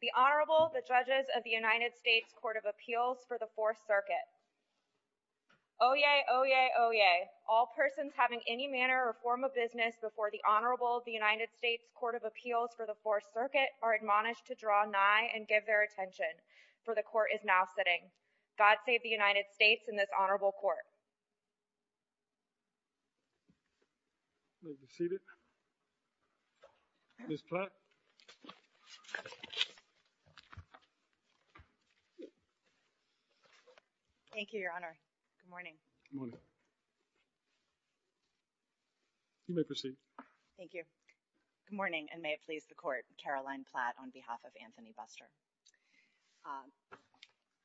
The Honorable, the Judges of the United States Court of Appeals for the 4th Circuit Oyez! Oyez! Oyez! All persons having any manner or form of business before the Honorable of the United States Court of Appeals for the 4th Circuit are admonished to draw nigh and give their attention, for the Court is now sitting. God save the United States and this Honorable Court. Please be seated. Ms. Platt. Thank you, Your Honor. Good morning. Good morning. You may proceed. Thank you. Good morning and may it please the Court, Caroline Platt on behalf of Anthony Buster.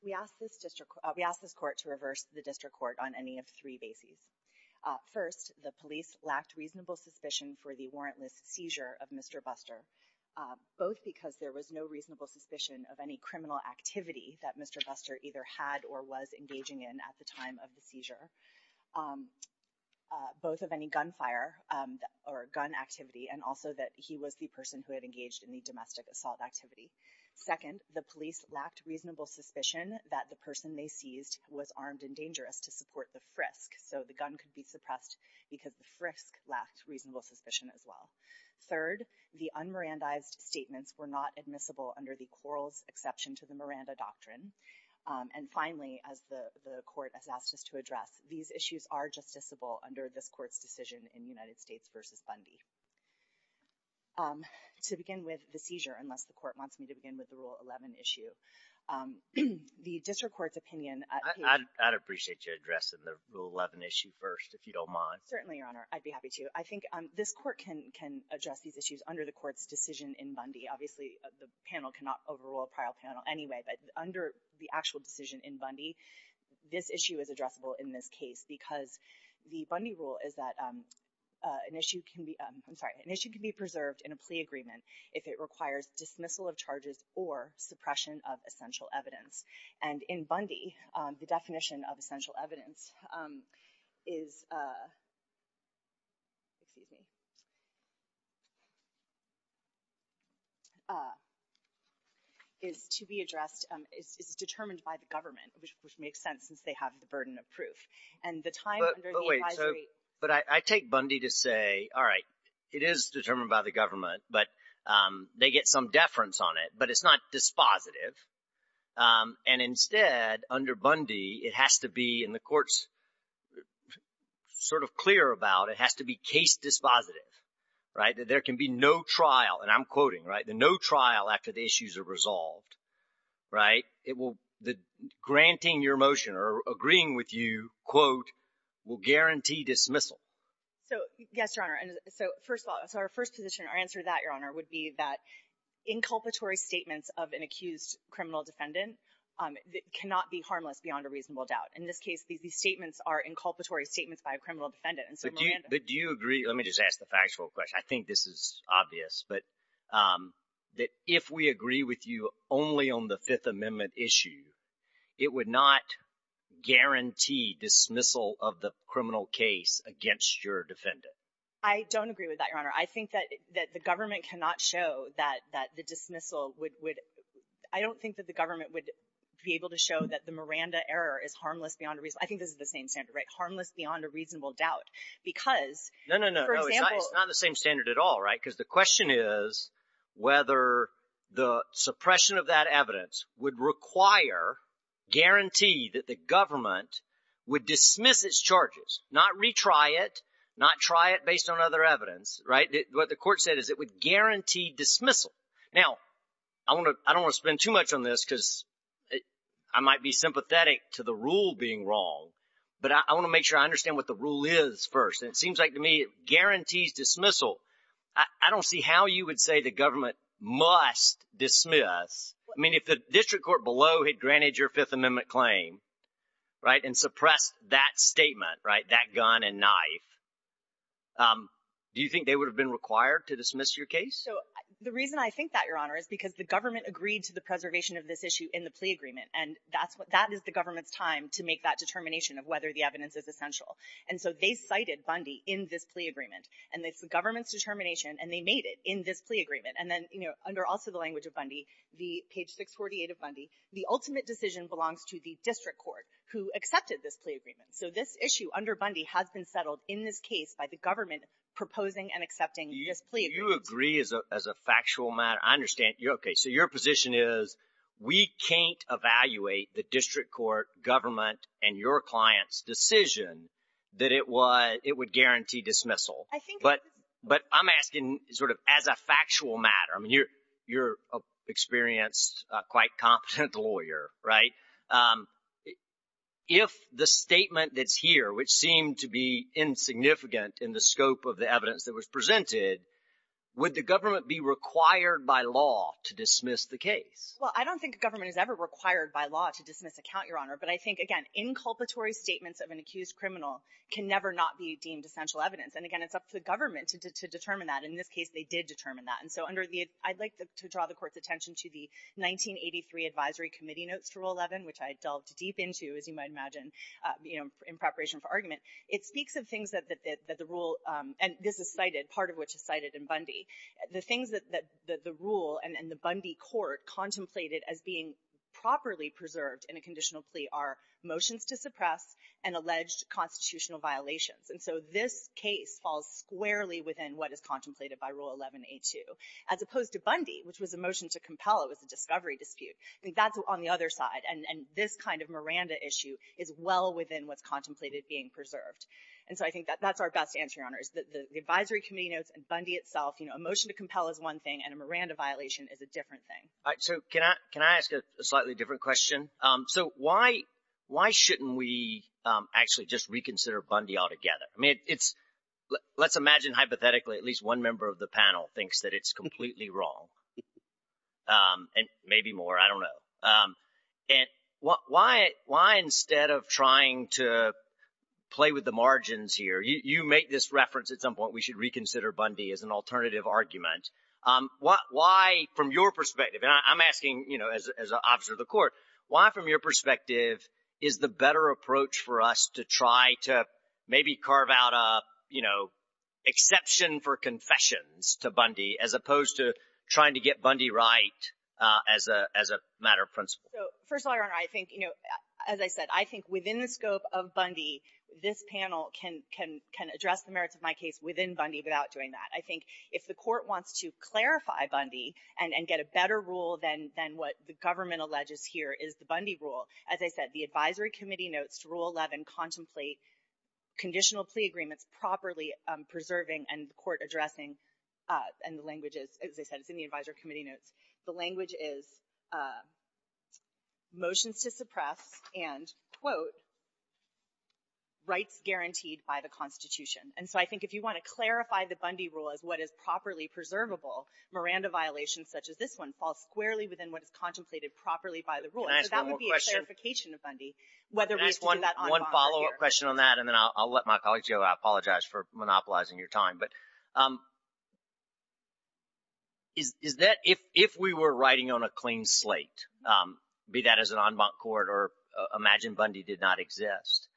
We ask this court to reverse the district court on any of three bases. First, the police lacked reasonable suspicion for the warrantless seizure of Mr. Buster, both because there was no reasonable suspicion of any criminal activity that Mr. Buster either had or was engaging in at the time of the seizure, both of any gun fire or gun activity and also that he was the person who had engaged in the domestic assault activity. Second, the police lacked reasonable suspicion that the person they seized was armed and dangerous to support the frisk, so the gun could be suppressed because the frisk lacked reasonable suspicion as well. Third, the un-Mirandaized statements were not admissible under the Quarles exception to the Miranda doctrine. And finally, as the Court has asked us to address, these issues are justiciable under this Court's decision in United States v. Bundy. To begin with, the seizure, unless the Court wants me to begin with the Rule 11 issue. The district court's opinion— I'd appreciate you addressing the Rule 11 issue first, if you don't mind. Certainly, Your Honor. I'd be happy to. I think this Court can address these issues under the Court's decision in Bundy. I'm sorry. An issue can be preserved in a plea agreement if it requires dismissal of charges or suppression of essential evidence. And in Bundy, the definition of essential evidence is—excuse me—is to be addressed—is determined by the government, which makes sense since they have the burden of proof. And the time under the advisory— it is determined by the government, but they get some deference on it. But it's not dispositive. And instead, under Bundy, it has to be, and the Court's sort of clear about it, it has to be case dispositive. Right? There can be no trial—and I'm quoting, right? No trial after the issues are resolved. Right? It will—granting your motion or agreeing with you, quote, will guarantee dismissal. So, yes, Your Honor. So, first of all, so our first position, our answer to that, Your Honor, would be that inculpatory statements of an accused criminal defendant cannot be harmless beyond a reasonable doubt. In this case, these statements are inculpatory statements by a criminal defendant. But do you agree—let me just ask the factual question. I think this is obvious, but that if we agree with you only on the Fifth Amendment issue, it would not guarantee dismissal of the criminal case against your defendant. I don't agree with that, Your Honor. I think that the government cannot show that the dismissal would—I don't think that the government would be able to show that the Miranda error is harmless beyond a reasonable—I think this is the same standard, right? Harmless beyond a reasonable doubt. Because, for example— It's not the same standard at all, right? Because the question is whether the suppression of that evidence would require—guarantee that the government would dismiss its charges, not retry it, not try it based on other evidence, right? What the court said is it would guarantee dismissal. Now, I don't want to spend too much on this because I might be sympathetic to the rule being wrong. But I want to make sure I understand what the rule is first. And it seems like to me it guarantees dismissal. I don't see how you would say the government must dismiss. I mean, if the district court below had granted your Fifth Amendment claim, right, and suppressed that statement, right, that gun and knife, do you think they would have been required to dismiss your case? So the reason I think that, Your Honor, is because the government agreed to the preservation of this issue in the plea agreement. And that is the government's time to make that determination of whether the evidence is essential. And so they cited Bundy in this plea agreement. And it's the government's determination, and they made it in this plea agreement. And then under also the language of Bundy, page 648 of Bundy, the ultimate decision belongs to the district court who accepted this plea agreement. So this issue under Bundy has been settled in this case by the government proposing and accepting this plea agreement. So you agree as a factual matter. I understand. Okay. So your position is we can't evaluate the district court, government, and your client's decision that it would guarantee dismissal. But I'm asking sort of as a factual matter. I mean, you're an experienced, quite competent lawyer, right? If the statement that's here, which seemed to be insignificant in the scope of the evidence that was presented, would the government be required by law to dismiss the case? Well, I don't think the government is ever required by law to dismiss a count, Your Honor. But I think, again, inculpatory statements of an accused criminal can never not be deemed essential evidence. And, again, it's up to the government to determine that. In this case, they did determine that. And so I'd like to draw the court's attention to the 1983 advisory committee notes for Rule 11, which I delved deep into, as you might imagine, in preparation for argument. It speaks of things that the rule, and this is cited, part of which is cited in Bundy. The things that the rule and the Bundy court contemplated as being properly preserved in a conditional plea are motions to suppress and alleged constitutional violations. And so this case falls squarely within what is contemplated by Rule 11A2, as opposed to Bundy, which was a motion to compel. It was a discovery dispute. I think that's on the other side. And this kind of Miranda issue is well within what's contemplated being preserved. And so I think that's our best answer, Your Honor, is the advisory committee notes and Bundy itself. A motion to compel is one thing, and a Miranda violation is a different thing. So can I ask a slightly different question? So why shouldn't we actually just reconsider Bundy altogether? I mean, let's imagine hypothetically at least one member of the panel thinks that it's completely wrong, and maybe more. I don't know. And why instead of trying to play with the margins here, you make this reference at some point we should reconsider Bundy as an alternative argument. Why, from your perspective, and I'm asking as an officer of the court, why from your perspective is the better approach for us to try to maybe carve out an exception for confessions to Bundy as opposed to trying to get Bundy right as a matter of principle? First of all, Your Honor, I think, as I said, I think within the scope of Bundy, this panel can address the merits of my case within Bundy without doing that. I think if the court wants to clarify Bundy and get a better rule than what the government alleges here is the Bundy rule, as I said, the advisory committee notes to Rule 11 contemplate conditional plea agreements properly preserving and the court addressing. And the language is, as I said, it's in the advisory committee notes. The language is motions to suppress and, quote, rights guaranteed by the Constitution. And so I think if you want to clarify the Bundy rule as what is properly preservable, Miranda violations such as this one fall squarely within what is contemplated properly by the rule. So that would be a clarification of Bundy. Can I ask one follow-up question on that? And then I'll let my colleagues go. I apologize for monopolizing your time. But is that if we were writing on a clean slate, be that as an en banc court or imagine Bundy did not exist,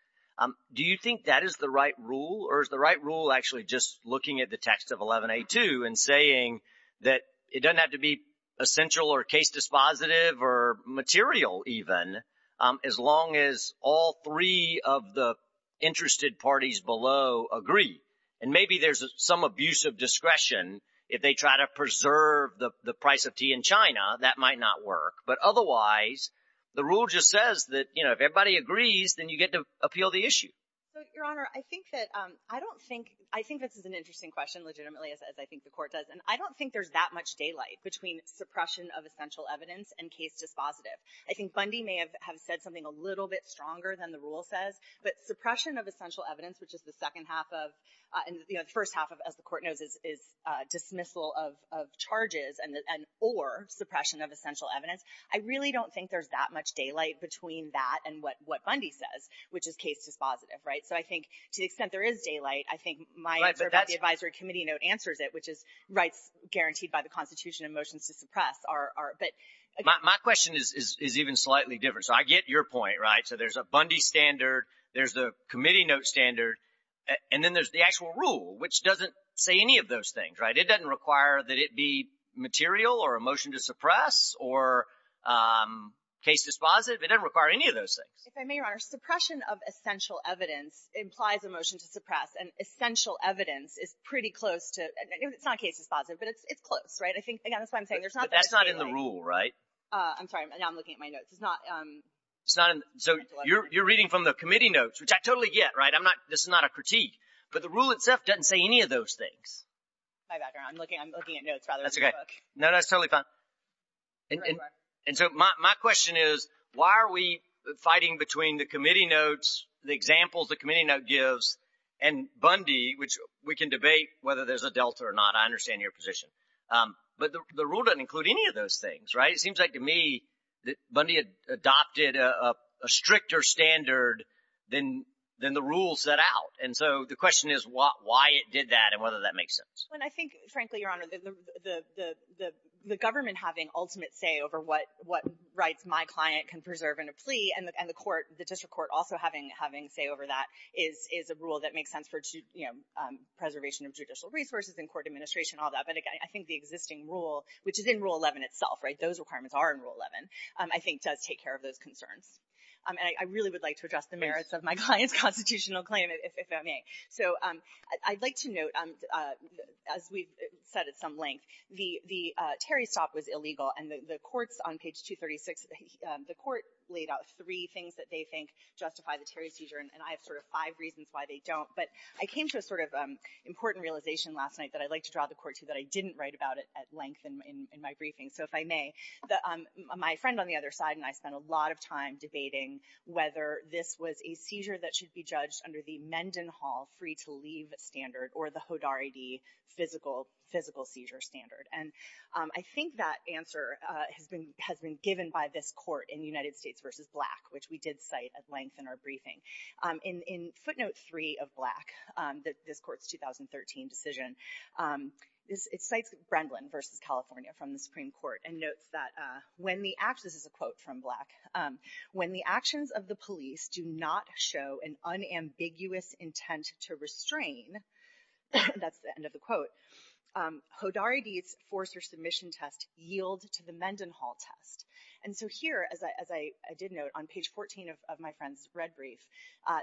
do you think that is the right rule? Or is the right rule actually just looking at the text of 11A2 and saying that it doesn't have to be essential or case dispositive or material even as long as all three of the interested parties below agree? And maybe there's some abuse of discretion if they try to preserve the price of tea in China. That might not work. But otherwise, the rule just says that, you know, if everybody agrees, then you get to appeal the issue. Your Honor, I think that I don't think I think this is an interesting question legitimately as I think the court does. And I don't think there's that much daylight between suppression of essential evidence and case dispositive. I think Bundy may have said something a little bit stronger than the rule says. But suppression of essential evidence, which is the second half of the first half of, as the court knows, is dismissal of charges and or suppression of essential evidence. I really don't think there's that much daylight between that and what Bundy says, which is case dispositive. Right. So I think to the extent there is daylight, I think my advisory committee note answers it, which is rights guaranteed by the Constitution and motions to suppress are. But my question is even slightly different. So I get your point. Right. So there's a Bundy standard. There's the committee note standard. And then there's the actual rule, which doesn't say any of those things. Right. It doesn't require that it be material or a motion to suppress or case dispositive. It doesn't require any of those things. If I may, Your Honor, suppression of essential evidence implies a motion to suppress. And essential evidence is pretty close to it. It's not case dispositive, but it's close. Right. I think that's what I'm saying. That's not in the rule. Right. I'm sorry. I'm looking at my notes. It's not. So you're reading from the committee notes, which I totally get. Right. I'm not. This is not a critique, but the rule itself doesn't say any of those things. My background. I'm looking at notes rather than the book. No, that's totally fine. And so my question is, why are we fighting between the committee notes, the examples the committee note gives, and Bundy, which we can debate whether there's a delta or not. I understand your position. But the rule doesn't include any of those things. Right. It seems like to me that Bundy adopted a stricter standard than the rules set out. And so the question is why it did that and whether that makes sense. I think, frankly, Your Honor, the government having ultimate say over what rights my client can preserve in a plea and the court, the district court, also having say over that is a rule that makes sense for preservation of judicial resources and court administration and all that. But I think the existing rule, which is in Rule 11 itself, right, those requirements are in Rule 11, I think does take care of those concerns. I really would like to address the merits of my client's constitutional claim, if that may. So I'd like to note, as we've said at some length, the Terry stop was illegal. And the courts on page 236, the court laid out three things that they think justify the Terry seizure. And I have sort of five reasons why they don't. But I came to a sort of important realization last night that I'd like to draw the court to that I didn't write about it at length in my briefing. So if I may, my friend on the other side and I spent a lot of time debating whether this was a seizure that should be judged under the Mendenhall free to leave standard or the Hodarity physical seizure standard. And I think that answer has been has been given by this court in the United States versus black, which we did cite at length in our briefing in footnote three of black that this court's 2013 decision. It cites Brendan versus California from the Supreme Court and notes that when the access is a quote from black, when the actions of the police do not show an unambiguous intent to restrain. That's the end of the quote. Hodarity's force or submission test yield to the Mendenhall test. And so here, as I as I did note on page 14 of my friend's red brief,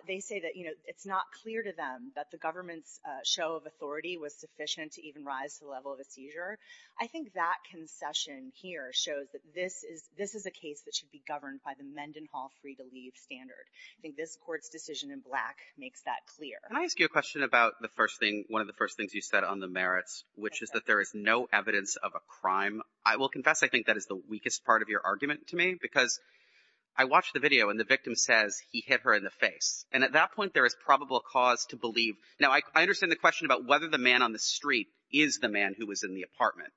they say that, you know, it's not clear to them that the government's show of authority was sufficient to even rise to the level of a seizure. I think that concession here shows that this is this is a case that should be governed by the Mendenhall free to leave standard. I think this court's decision in black makes that clear. Can I ask you a question about the first thing? One of the first things you said on the merits, which is that there is no evidence of a crime. I will confess, I think that is the weakest part of your argument to me, because I watched the video and the victim says he hit her in the face. And at that point, there is probable cause to believe. Now, I understand the question about whether the man on the street is the man who was in the apartment.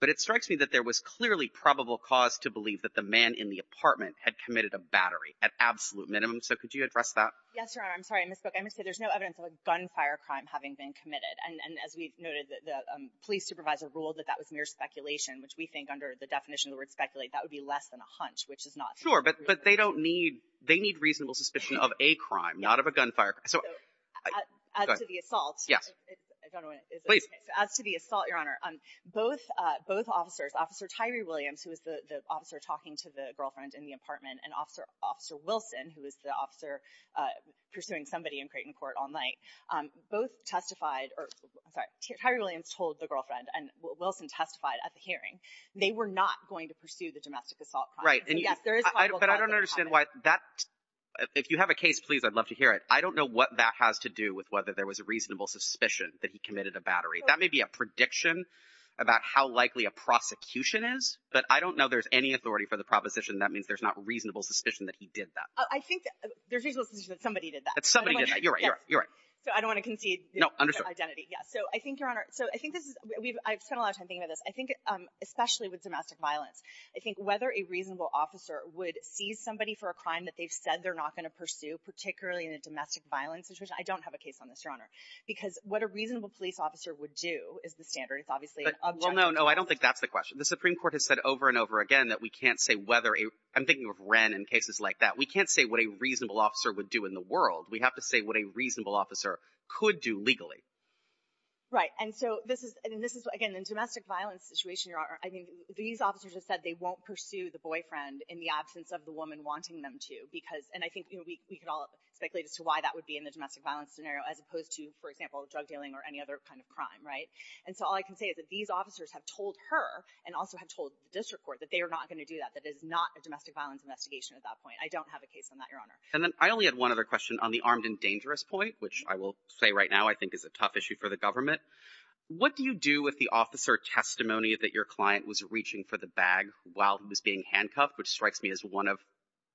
But it strikes me that there was clearly probable cause to believe that the man in the apartment had committed a battery at absolute minimum. So could you address that? Yes, I'm sorry I misspoke. I would say there's no evidence of a gunfire crime having been committed. And as we noted, the police supervisor ruled that that was mere speculation, which we think under the definition of the word speculate, that would be less than a hunch, which is not. Sure, but they don't need they need reasonable suspicion of a crime, not of a gunfire. So the assault. Yes, please. As to the assault, Your Honor, both both officers, Officer Tyree Williams, who is the officer talking to the girlfriend in the apartment, and Officer Wilson, who is the officer pursuing somebody in Creighton Court all night, both testified or Tyree Williams told the girlfriend and Wilson testified at the hearing. They were not going to pursue the domestic assault. Right. Yes, there is. But I don't understand why that if you have a case, please, I'd love to hear it. I don't know what that has to do with whether there was a reasonable suspicion that he committed a battery. That may be a prediction about how likely a prosecution is. But I don't know there's any authority for the proposition. That means there's not reasonable suspicion that he did that. I think there's reasonable suspicion that somebody did that. That somebody did that. You're right. You're right. So I don't want to concede. No, understood. Identity. Yes. So I think, Your Honor, so I think this is I've spent a lot of time thinking about this. I think especially with domestic violence, I think whether a reasonable officer would seize somebody for a crime that they've said they're not going to pursue, particularly in a domestic violence situation. I don't have a case on this, Your Honor, because what a reasonable police officer would do is the standard. It's obviously an object. Well, no, no. I don't think that's the question. The Supreme Court has said over and over again that we can't say whether a I'm thinking of Wren and cases like that. We can't say what a reasonable officer would do in the world. We have to say what a reasonable officer could do legally. Right. And so this is and this is, again, in a domestic violence situation, Your Honor, I mean, these officers have said they won't pursue the boyfriend in the absence of the woman wanting them to because and I think we could all speculate as to why that would be in the domestic violence scenario as opposed to, for example, drug dealing or any other kind of crime. Right. And so all I can say is that these officers have told her and also have told the district court that they are not going to do that. That is not a domestic violence investigation at that point. I don't have a case on that, Your Honor. And then I only had one other question on the armed and dangerous point, which I will say right now, I think is a tough issue for the government. What do you do with the officer testimony that your client was reaching for the bag while he was being handcuffed, which strikes me as one of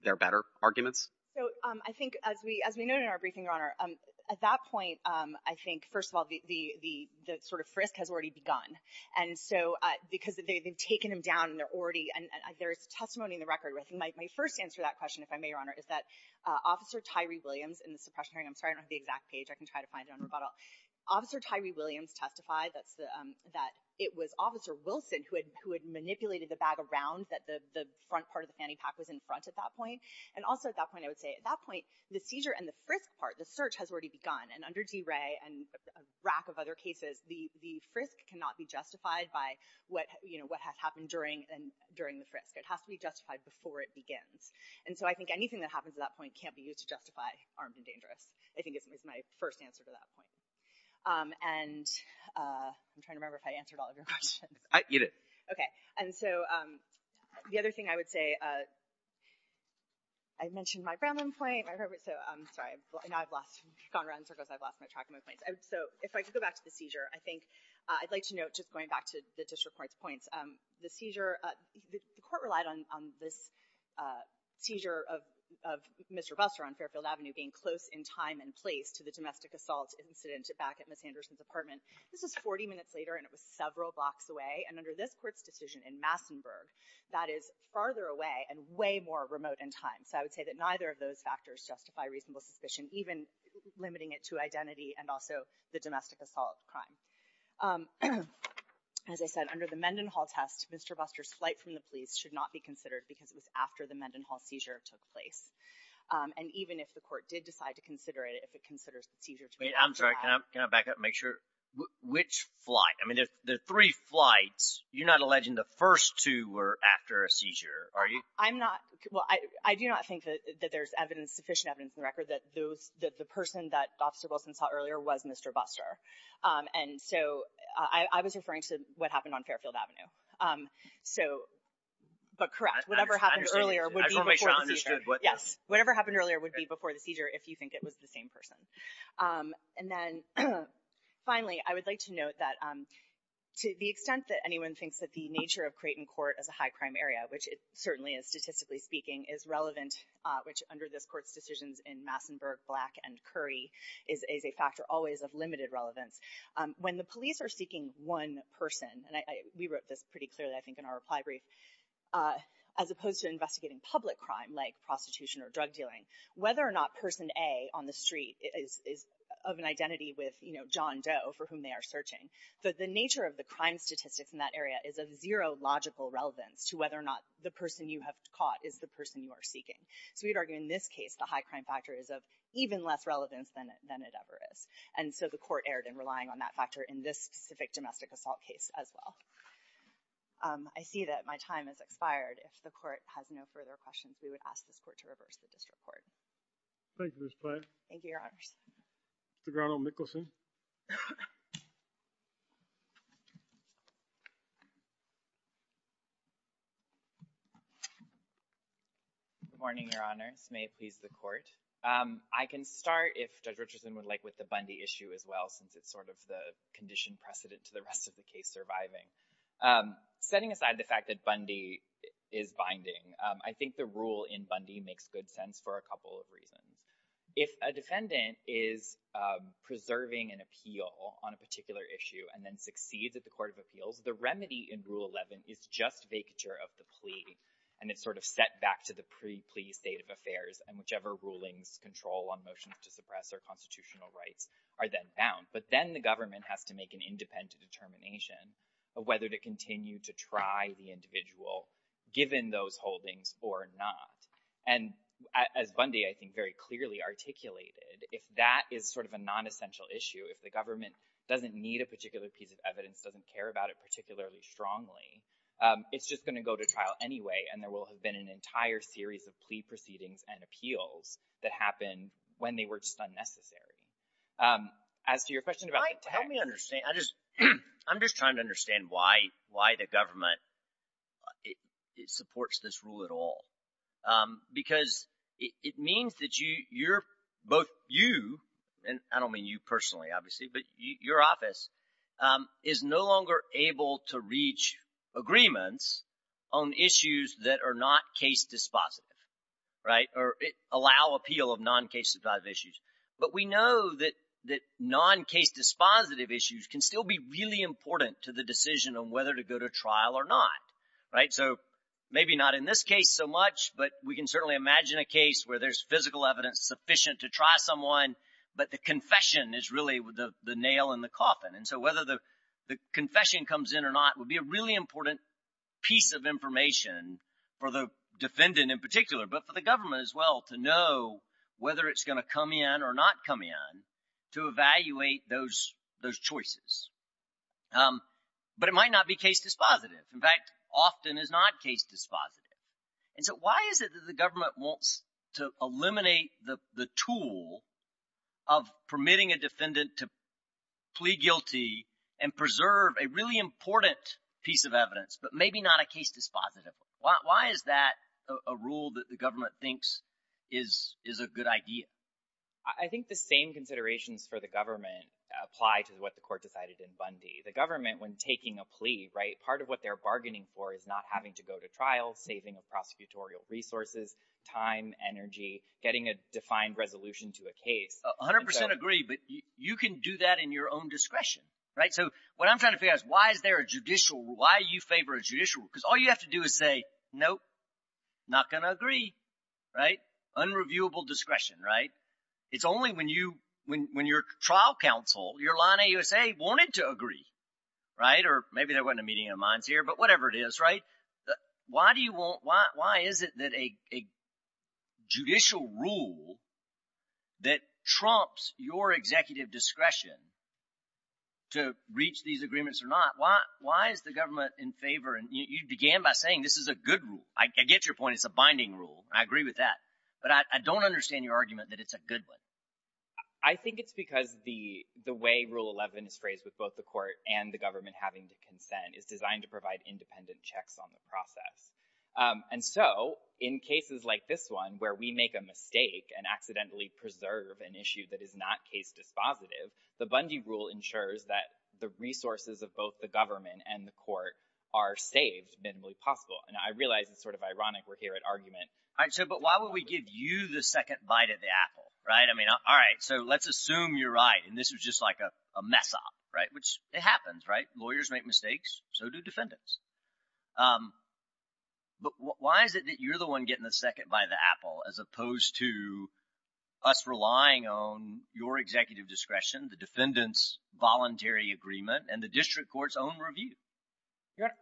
their better arguments? So I think as we as we know in our briefing, Your Honor, at that point, I think, first of all, the the the sort of frisk has already begun. And so because they've taken him down and they're already and there is testimony in the record. My first answer to that question, if I may, Your Honor, is that Officer Tyree Williams in the suppression hearing. I'm sorry, I don't have the exact page. I can try to find it on rebuttal. Officer Tyree Williams testified that it was Officer Wilson who had manipulated the bag around that the front part of the fanny pack was in front at that point. And also at that point, I would say at that point, the seizure and the frisk part, the search has already begun. And under DeRay and a rack of other cases, the frisk cannot be justified by what has happened during the frisk. It has to be justified before it begins. And so I think anything that happens at that point can't be used to justify armed and dangerous. I think it's my first answer to that point. And I'm trying to remember if I answered all of your questions. I get it. OK. And so the other thing I would say. I mentioned my ground point, my favorite, so I'm sorry. I've lost gone around circles. I've lost my track of my points. So if I could go back to the seizure, I think I'd like to note just going back to the district court's points. The court relied on this seizure of Mr. Buster on Fairfield Avenue being close in time and place to the domestic assault incident back at Ms. Anderson's apartment. This was 40 minutes later, and it was several blocks away. And under this court's decision in Massenburg, that is farther away and way more remote in time. So I would say that neither of those factors justify reasonable suspicion, even limiting it to identity and also the domestic assault crime. As I said, under the Mendenhall test, Mr. Buster's flight from the police should not be considered because it was after the Mendenhall seizure took place. And even if the court did decide to consider it, if it considers the seizure to be. I'm sorry, can I back up and make sure? Which flight? I mean, there are three flights. You're not alleging the first two were after a seizure, are you? I'm not. Well, I do not think that there's evidence, sufficient evidence in the record that those that the person that Officer Wilson saw earlier was Mr. Buster. And so I was referring to what happened on Fairfield Avenue. So, but correct, whatever happened earlier would be understood. Yes. Whatever happened earlier would be before the seizure if you think it was the same person. And then finally, I would like to note that to the extent that anyone thinks that the nature of Creighton Court is a high crime area, which it certainly is, statistically speaking, is relevant. Which under this court's decisions in Massenburg, Black, and Curry is a factor always of limited relevance. When the police are seeking one person, and we wrote this pretty clearly, I think, in our reply brief. As opposed to investigating public crime like prostitution or drug dealing. Whether or not person A on the street is of an identity with John Doe for whom they are searching. So the nature of the crime statistics in that area is of zero logical relevance to whether or not the person you have caught is the person you are seeking. So we'd argue in this case the high crime factor is of even less relevance than it ever is. And so the court erred in relying on that factor in this specific domestic assault case as well. I see that my time has expired. If the court has no further questions, we would ask this court to reverse the district court. Thank you, Ms. Platt. Thank you, Your Honors. Mr. Grotto-Mikkelson. Good morning, Your Honors. May it please the court. I can start, if Judge Richardson would like, with the Bundy issue as well, since it's sort of the condition precedent to the rest of the case surviving. Setting aside the fact that Bundy is binding, I think the rule in Bundy makes good sense for a couple of reasons. If a defendant is preserving an appeal on a particular issue and then succeeds at the court of appeals, the remedy in Rule 11 is just vacature of the plea. And it's sort of set back to the pre-plea state of affairs, and whichever rulings control on motions to suppress their constitutional rights are then bound. But then the government has to make an independent determination of whether to continue to try the individual, given those holdings, or not. And as Bundy, I think, very clearly articulated, if that is sort of a non-essential issue, if the government doesn't need a particular piece of evidence, doesn't care about it particularly strongly, it's just going to go to trial anyway, and there will have been an entire series of plea proceedings and appeals that happened when they were just unnecessary. As to your question about the tax— Help me understand. I'm just trying to understand why the government supports this rule at all. Because it means that you're, both you, and I don't mean you personally, obviously, but your office, is no longer able to reach agreements on issues that are not case dispositive, right? Or allow appeal of non-case dispositive issues. But we know that non-case dispositive issues can still be really important to the decision on whether to go to trial or not, right? So maybe not in this case so much, but we can certainly imagine a case where there's physical evidence sufficient to try someone, but the confession is really the nail in the coffin. And so whether the confession comes in or not would be a really important piece of information for the defendant in particular, but for the government as well to know whether it's going to come in or not come in to evaluate those choices. But it might not be case dispositive. In fact, often is not case dispositive. And so why is it that the government wants to eliminate the tool of permitting a defendant to plea guilty and preserve a really important piece of evidence, but maybe not a case dispositive one? Why is that a rule that the government thinks is a good idea? I think the same considerations for the government apply to what the court decided in Bundy. The government, when taking a plea, part of what they're bargaining for is not having to go to trial, saving of prosecutorial resources, time, energy, getting a defined resolution to a case. I 100% agree, but you can do that in your own discretion. So what I'm trying to figure out is why is there a judicial, why you favor a judicial? Because all you have to do is say, nope, not going to agree. Unreviewable discretion. It's only when your trial counsel, your line AUSA, wanted to agree. Or maybe there wasn't a meeting of minds here, but whatever it is. Why is it that a judicial rule that trumps your executive discretion to reach these agreements or not, why is the government in favor? And you began by saying this is a good rule. I get your point. It's a binding rule. I agree with that. But I don't understand your argument that it's a good one. I think it's because the way Rule 11 is phrased with both the court and the government having to consent is designed to provide independent checks on the process. And so in cases like this one where we make a mistake and accidentally preserve an issue that is not case dispositive, the Bundy rule ensures that the resources of both the government and the court are saved minimally possible. And I realize it's sort of ironic we're here at argument. So, but why would we give you the second bite at the apple, right? I mean, all right, so let's assume you're right. And this was just like a mess up, right? Which it happens, right? Lawyers make mistakes. So do defendants. But why is it that you're the one getting the second bite of the apple as opposed to us relying on your executive discretion, the defendant's voluntary agreement, and the district court's own review?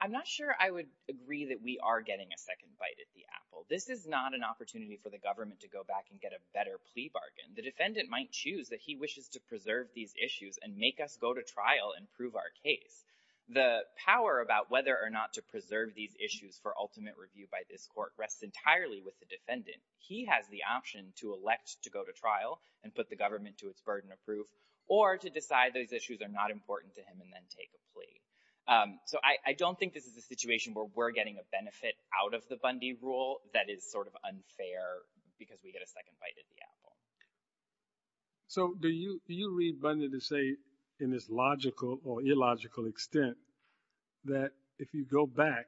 I'm not sure I would agree that we are getting a second bite at the apple. This is not an opportunity for the government to go back and get a better plea bargain. The defendant might choose that he wishes to preserve these issues and make us go to trial and prove our case. The power about whether or not to preserve these issues for ultimate review by this court rests entirely with the defendant. He has the option to elect to go to trial and put the government to its burden of proof or to decide these issues are not important to him and then take a plea. So I don't think this is a situation where we're getting a benefit out of the Bundy rule that is sort of unfair because we get a second bite at the apple. So do you read Bundy to say in this logical or illogical extent that if you go back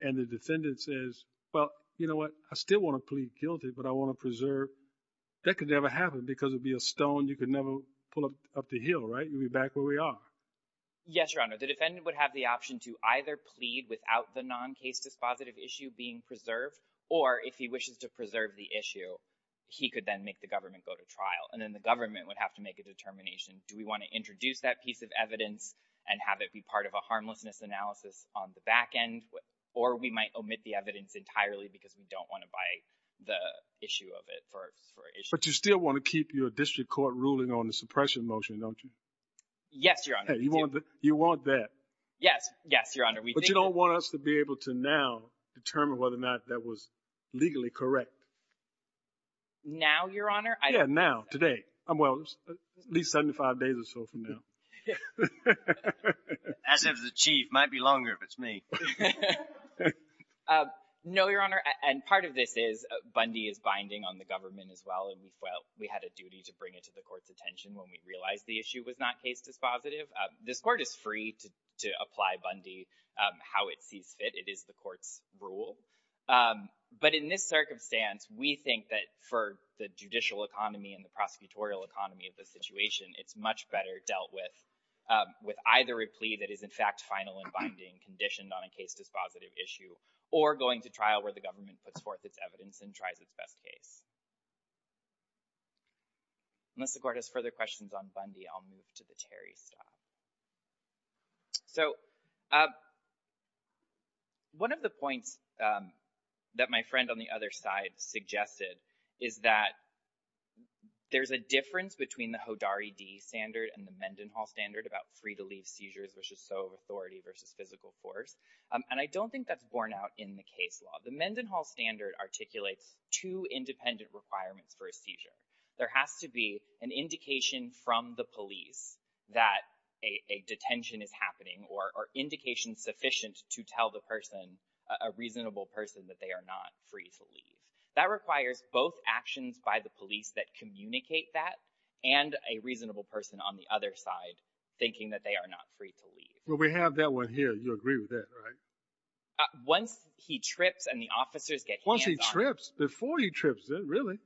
and the defendant says, well, you know what, I still want to plead guilty, but I want to preserve, that could never happen because it would be a stone you could never pull up the hill, right? You'd be back where we are. Yes, Your Honor. The defendant would have the option to either plead without the non-case dispositive issue being preserved, or if he wishes to preserve the issue, he could then make the government go to trial. And then the government would have to make a determination. Do we want to introduce that piece of evidence and have it be part of a harmlessness analysis on the back end? Or we might omit the evidence entirely because we don't want to buy the issue of it for issue. But you still want to keep your district court ruling on the suppression motion, don't you? Yes, Your Honor. You want that. Yes, Your Honor. But you don't want us to be able to now determine whether or not that was legally correct. Now, Your Honor? Yeah, now, today. Well, at least 75 days or so from now. As if the chief might be longer if it's me. No, Your Honor. And part of this is Bundy is binding on the government as well. And we felt we had a duty to bring it to the court's attention when we realized the issue was not case dispositive. This court is free to apply Bundy how it sees fit. It is the court's rule. But in this circumstance, we think that for the judicial economy and the prosecutorial economy of the situation, it's much better dealt with with either a plea that is, in fact, final and binding, conditioned on a case dispositive issue, or going to trial where the government puts forth its evidence and tries its best case. Unless the court has further questions on Bundy, I'll move to the Terry stuff. So, one of the points that my friend on the other side suggested is that there's a difference between the Hodari D standard and the Mendenhall standard about free to leave seizures, which is so authority versus physical force. And I don't think that's borne out in the case law. The Mendenhall standard articulates two independent requirements for a seizure. There has to be an indication from the police that a detention is happening, or indication sufficient to tell the person, a reasonable person, that they are not free to leave. That requires both actions by the police that communicate that, and a reasonable person on the other side thinking that they are not free to leave. Well, we have that one here. You agree with that, right? Once he trips and the officers get hands on him. Once he trips? Before he trips, really?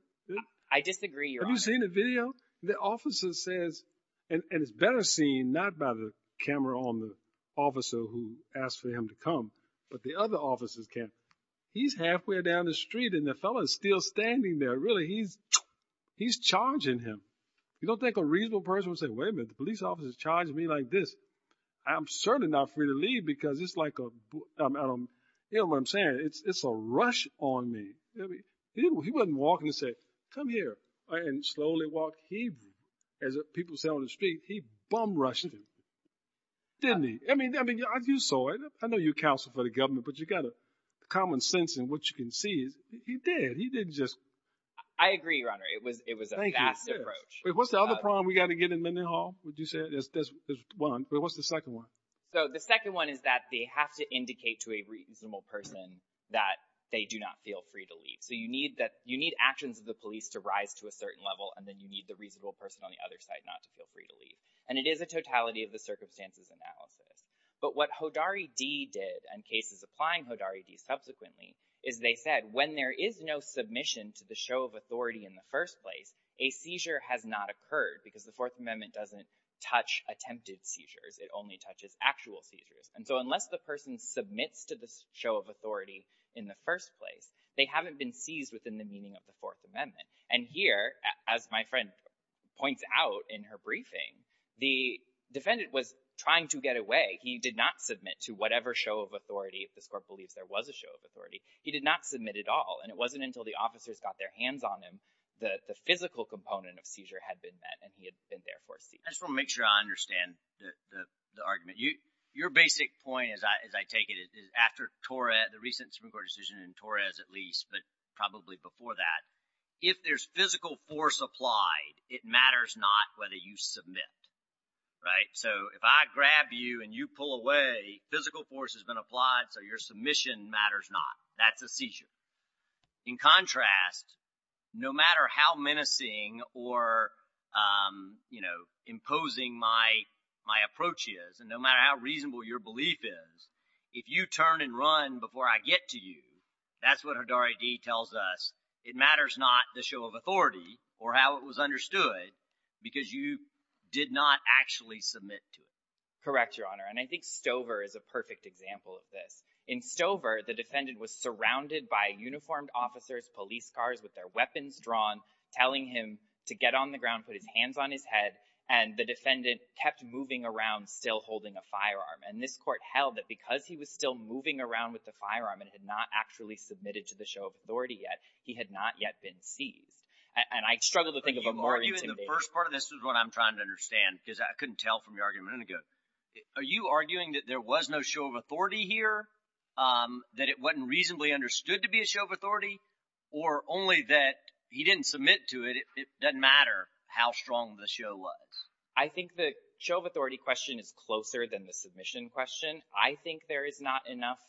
I disagree, Your Honor. Have you seen the video? The officer says, and it's better seen not by the camera on the officer who asked for him to come, but the other officers can. He's halfway down the street and the fellow is still standing there. Really, he's charging him. You don't think a reasonable person would say, wait a minute, the police officer is charging me like this. I'm certainly not free to leave because it's like a, you know what I'm saying, it's a rush on me. He wasn't walking and saying, come here, and slowly walk. He, as people say on the street, he bum-rushed him. Didn't he? I mean, you saw it. I know you counsel for the government, but you got a common sense in what you can see. He did. He didn't just. I agree, Your Honor. It was a fast approach. What's the other problem we got to get in Mendenhall, would you say? There's one. What's the second one? So the second one is that they have to indicate to a reasonable person that they do not feel free to leave. So you need actions of the police to rise to a certain level, and then you need the reasonable person on the other side not to feel free to leave. And it is a totality of the circumstances analysis. But what Hodari D. did, and cases applying Hodari D. subsequently, is they said, when there is no submission to the show of authority in the first place, a seizure has not occurred because the Fourth Amendment doesn't touch attempted seizures. It only touches actual seizures. And so unless the person submits to the show of authority in the first place, they haven't been seized within the meaning of the Fourth Amendment. And here, as my friend points out in her briefing, the defendant was trying to get away. He did not submit to whatever show of authority, if this Court believes there was a show of authority. He did not submit at all, and it wasn't until the officers got their hands on him that the physical component of seizure had been met, and he had been therefore seized. I just want to make sure I understand the argument. Your basic point, as I take it, is after the recent Supreme Court decision in Torres, at least, but probably before that, if there's physical force applied, it matters not whether you submit. So if I grab you and you pull away, physical force has been applied, so your submission matters not. That's a seizure. In contrast, no matter how menacing or, you know, imposing my approach is, and no matter how reasonable your belief is, if you turn and run before I get to you, that's what Hidari D. tells us, it matters not the show of authority or how it was understood because you did not actually submit to it. Correct, Your Honor, and I think Stover is a perfect example of this. In Stover, the defendant was surrounded by uniformed officers, police cars with their weapons drawn, telling him to get on the ground, put his hands on his head, and the defendant kept moving around still holding a firearm. And this court held that because he was still moving around with the firearm and had not actually submitted to the show of authority yet, he had not yet been seized. And I struggle to think of a more intimate— Are you—the first part of this is what I'm trying to understand because I couldn't tell from your argument a minute ago. Are you arguing that there was no show of authority here, that it wasn't reasonably understood to be a show of authority, or only that he didn't submit to it, it doesn't matter how strong the show was? I think the show of authority question is closer than the submission question. I think there is not enough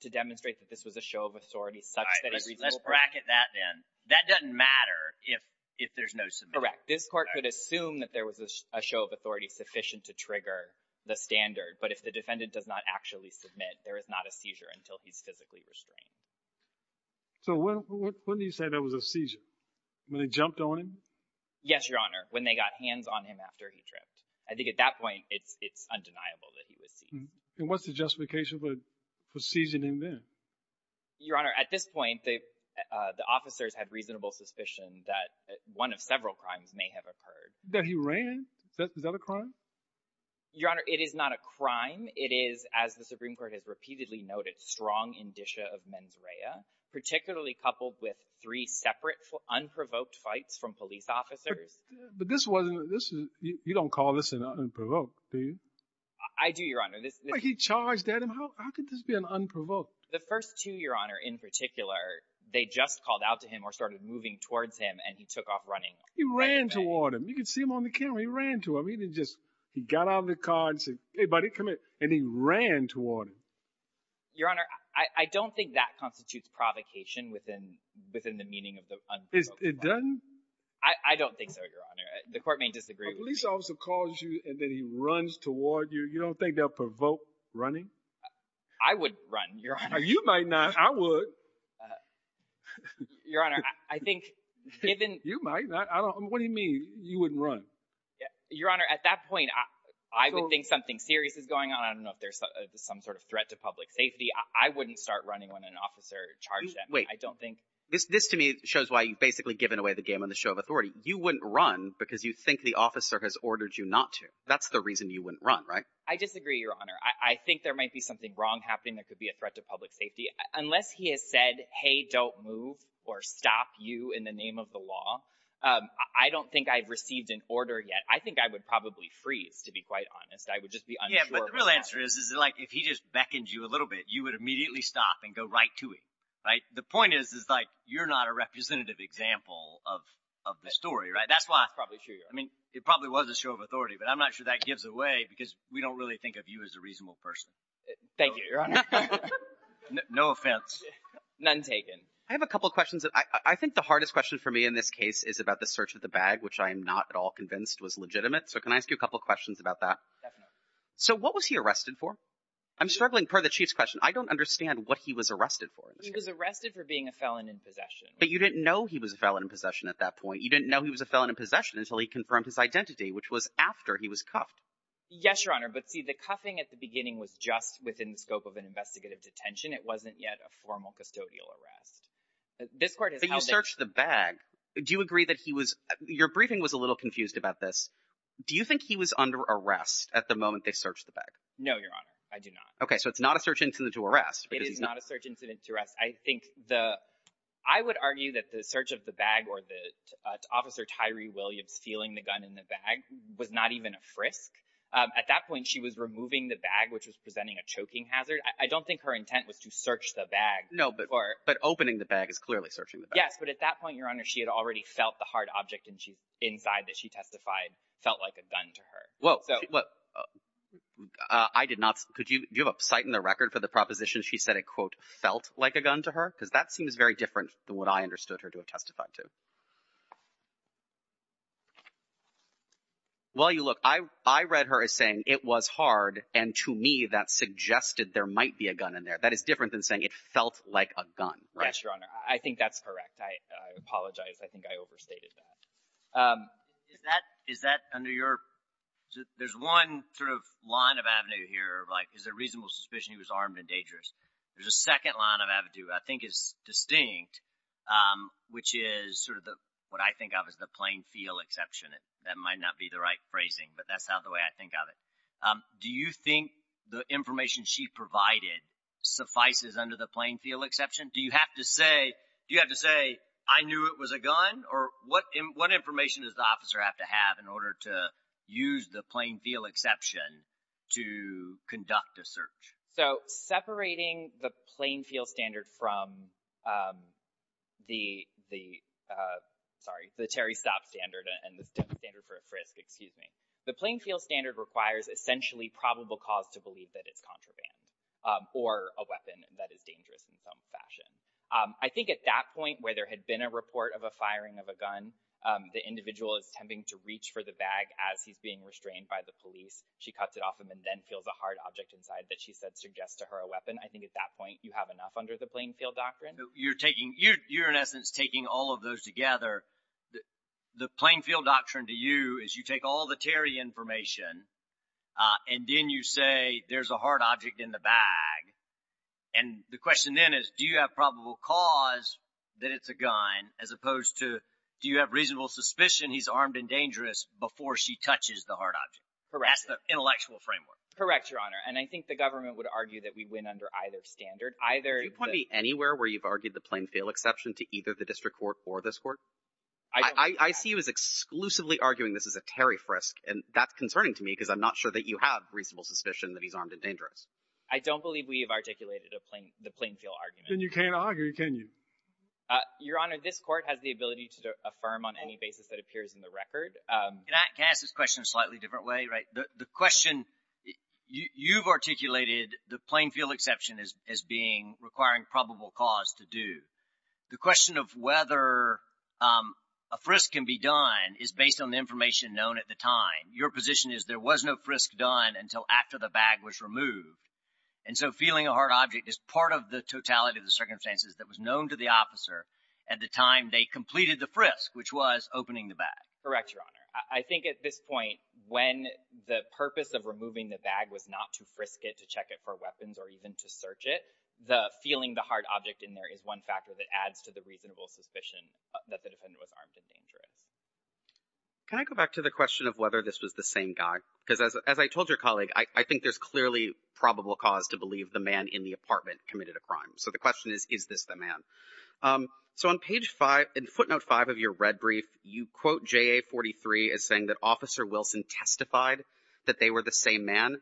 to demonstrate that this was a show of authority such that a reasonable person— All right, let's bracket that then. That doesn't matter if there's no submission. Correct. This court could assume that there was a show of authority sufficient to trigger the standard, but if the defendant does not actually submit, there is not a seizure until he's physically restrained. So when do you say there was a seizure? When they jumped on him? Yes, Your Honor, when they got hands on him after he tripped. I think at that point it's undeniable that he was seized. And what's the justification for seizing him then? Your Honor, at this point the officers had reasonable suspicion that one of several crimes may have occurred. That he ran? Is that a crime? Your Honor, it is not a crime. It is, as the Supreme Court has repeatedly noted, strong indicia of mens rea, particularly coupled with three separate unprovoked fights from police officers. But this wasn't—you don't call this an unprovoked, do you? I do, Your Honor. He charged at him. How could this be an unprovoked? The first two, Your Honor, in particular, they just called out to him or started moving towards him, and he took off running. He ran toward him. You could see him on the camera. He ran to him. He didn't just—he got out of the car and said, hey, buddy, come here, and he ran toward him. Your Honor, I don't think that constitutes provocation within the meaning of the unprovoked fight. It doesn't? I don't think so, Your Honor. The court may disagree with me. A police officer calls you and then he runs toward you. You don't think they'll provoke running? I would run, Your Honor. You might not. I would. Your Honor, I think— You might not. What do you mean you wouldn't run? Your Honor, at that point, I would think something serious is going on. I don't know if there's some sort of threat to public safety. I wouldn't start running when an officer charged at me. Wait. This to me shows why you've basically given away the game on the show of authority. You wouldn't run because you think the officer has ordered you not to. That's the reason you wouldn't run, right? I disagree, Your Honor. I think there might be something wrong happening that could be a threat to public safety. Unless he has said, hey, don't move or stop you in the name of the law, I don't think I've received an order yet. I think I would probably freeze, to be quite honest. I would just be unsure. Yeah, but the real answer is if he just beckoned you a little bit, you would immediately stop and go right to him, right? The point is you're not a representative example of the story, right? That's probably true, Your Honor. But I'm not sure that gives away because we don't really think of you as a reasonable person. Thank you, Your Honor. No offense. None taken. I have a couple of questions. I think the hardest question for me in this case is about the search of the bag, which I am not at all convinced was legitimate. So can I ask you a couple of questions about that? Definitely. So what was he arrested for? I'm struggling per the Chief's question. I don't understand what he was arrested for. He was arrested for being a felon in possession. But you didn't know he was a felon in possession at that point. You didn't know he was a felon in possession until he confirmed his identity, which was after he was cuffed. Yes, Your Honor. But, see, the cuffing at the beginning was just within the scope of an investigative detention. It wasn't yet a formal custodial arrest. But you searched the bag. Do you agree that he was – your briefing was a little confused about this. Do you think he was under arrest at the moment they searched the bag? No, Your Honor. I do not. Okay. So it's not a search incident to arrest. It is not a search incident to arrest. I think the – I would argue that the search of the bag or that Officer Tyree Williams feeling the gun in the bag was not even a frisk. At that point, she was removing the bag, which was presenting a choking hazard. I don't think her intent was to search the bag. No, but opening the bag is clearly searching the bag. Yes, but at that point, Your Honor, she had already felt the hard object inside that she testified felt like a gun to her. Well, I did not – could you – do you have a cite in the record for the proposition she said it, quote, felt like a gun to her? Because that seems very different than what I understood her to have testified to. Well, you look, I read her as saying it was hard, and to me that suggested there might be a gun in there. That is different than saying it felt like a gun, right? Yes, Your Honor. I think that's correct. I apologize. I think I overstated that. Is that under your – there's one sort of line of avenue here, like, is there reasonable suspicion he was armed and dangerous? There's a second line of avenue I think is distinct, which is sort of what I think of as the plain feel exception. That might not be the right phrasing, but that's the way I think of it. Do you think the information she provided suffices under the plain feel exception? Do you have to say, do you have to say, I knew it was a gun? Or what information does the officer have to have in order to use the plain feel exception to conduct a search? So separating the plain feel standard from the – sorry, the Terry Stott standard and the standard for a frisk, excuse me. The plain feel standard requires essentially probable cause to believe that it's contraband or a weapon that is dangerous in some fashion. I think at that point where there had been a report of a firing of a gun, the individual is attempting to reach for the bag as he's being restrained by the police. She cuts it off him and then feels a hard object inside that she said suggests to her a weapon. I think at that point you have enough under the plain feel doctrine. You're taking – you're in essence taking all of those together. The plain feel doctrine to you is you take all the Terry information and then you say there's a hard object in the bag. And the question then is do you have probable cause that it's a gun as opposed to do you have reasonable suspicion he's armed and dangerous before she touches the hard object? Correct. That's the intellectual framework. Correct, Your Honor. And I think the government would argue that we win under either standard. Do you point me anywhere where you've argued the plain feel exception to either the district court or this court? I see you as exclusively arguing this as a Terry frisk, and that's concerning to me because I'm not sure that you have reasonable suspicion that he's armed and dangerous. I don't believe we have articulated the plain feel argument. Then you can't argue, can you? Your Honor, this court has the ability to affirm on any basis that appears in the record. Can I ask this question a slightly different way? The question you've articulated the plain feel exception as being requiring probable cause to do. The question of whether a frisk can be done is based on the information known at the time. Your position is there was no frisk done until after the bag was removed. And so feeling a hard object is part of the totality of the circumstances that was known to the officer at the time they completed the frisk, which was opening the bag. Correct, Your Honor. I think at this point when the purpose of removing the bag was not to frisk it, to check it for weapons, or even to search it, the feeling the hard object in there is one factor that adds to the reasonable suspicion that the defendant was armed and dangerous. Can I go back to the question of whether this was the same guy? Because as I told your colleague, I think there's clearly probable cause to believe the man in the apartment committed a crime. So the question is, is this the man? So on page 5, in footnote 5 of your red brief, you quote JA 43 as saying that Officer Wilson testified that they were the same man.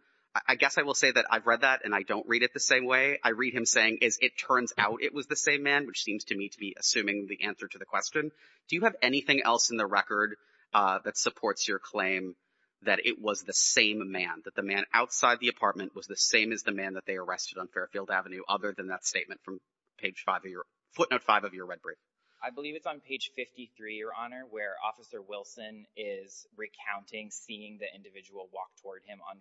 I guess I will say that I've read that and I don't read it the same way. I read him saying, as it turns out, it was the same man, which seems to me to be assuming the answer to the question. Do you have anything else in the record that supports your claim that it was the same man, that the man outside the apartment was the same as the man that they arrested on Fairfield Avenue, other than that statement from footnote 5 of your red brief? I believe it's on page 53, Your Honor, where Officer Wilson is recounting seeing the individual walk toward him on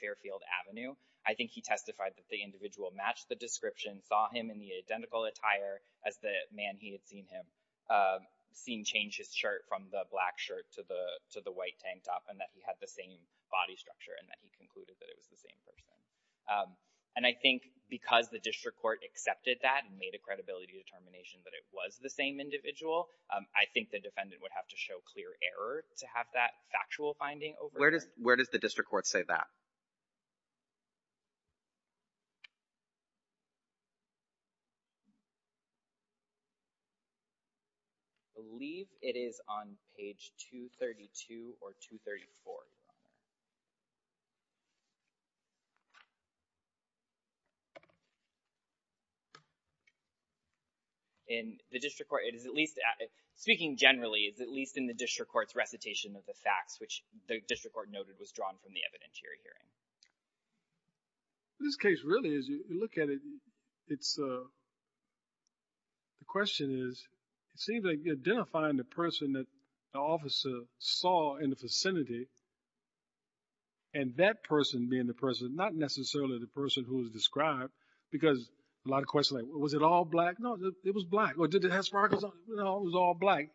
Fairfield Avenue. I think he testified that the individual matched the description, saw him in the identical attire as the man he had seen him, seen change his shirt from the black shirt to the white tank top and that he had the same body structure and that he concluded that it was the same person. And I think because the district court accepted that and made a credibility determination that it was the same individual, I think the defendant would have to show clear error to have that factual finding over there. Where does the district court say that? I believe it is on page 232 or 234, Your Honor. In the district court, it is at least, speaking generally, it's at least in the district court's recitation of the facts, which the district court noted was drawn from the evidentiary hearing. In this case, really, as you look at it, it's the question is, it seems like identifying the person that the officer saw in the vicinity and that person being the person, not necessarily the person who was described because a lot of questions like, was it all black? No, it was black. Or did it have sparkles on it? No, it was all black.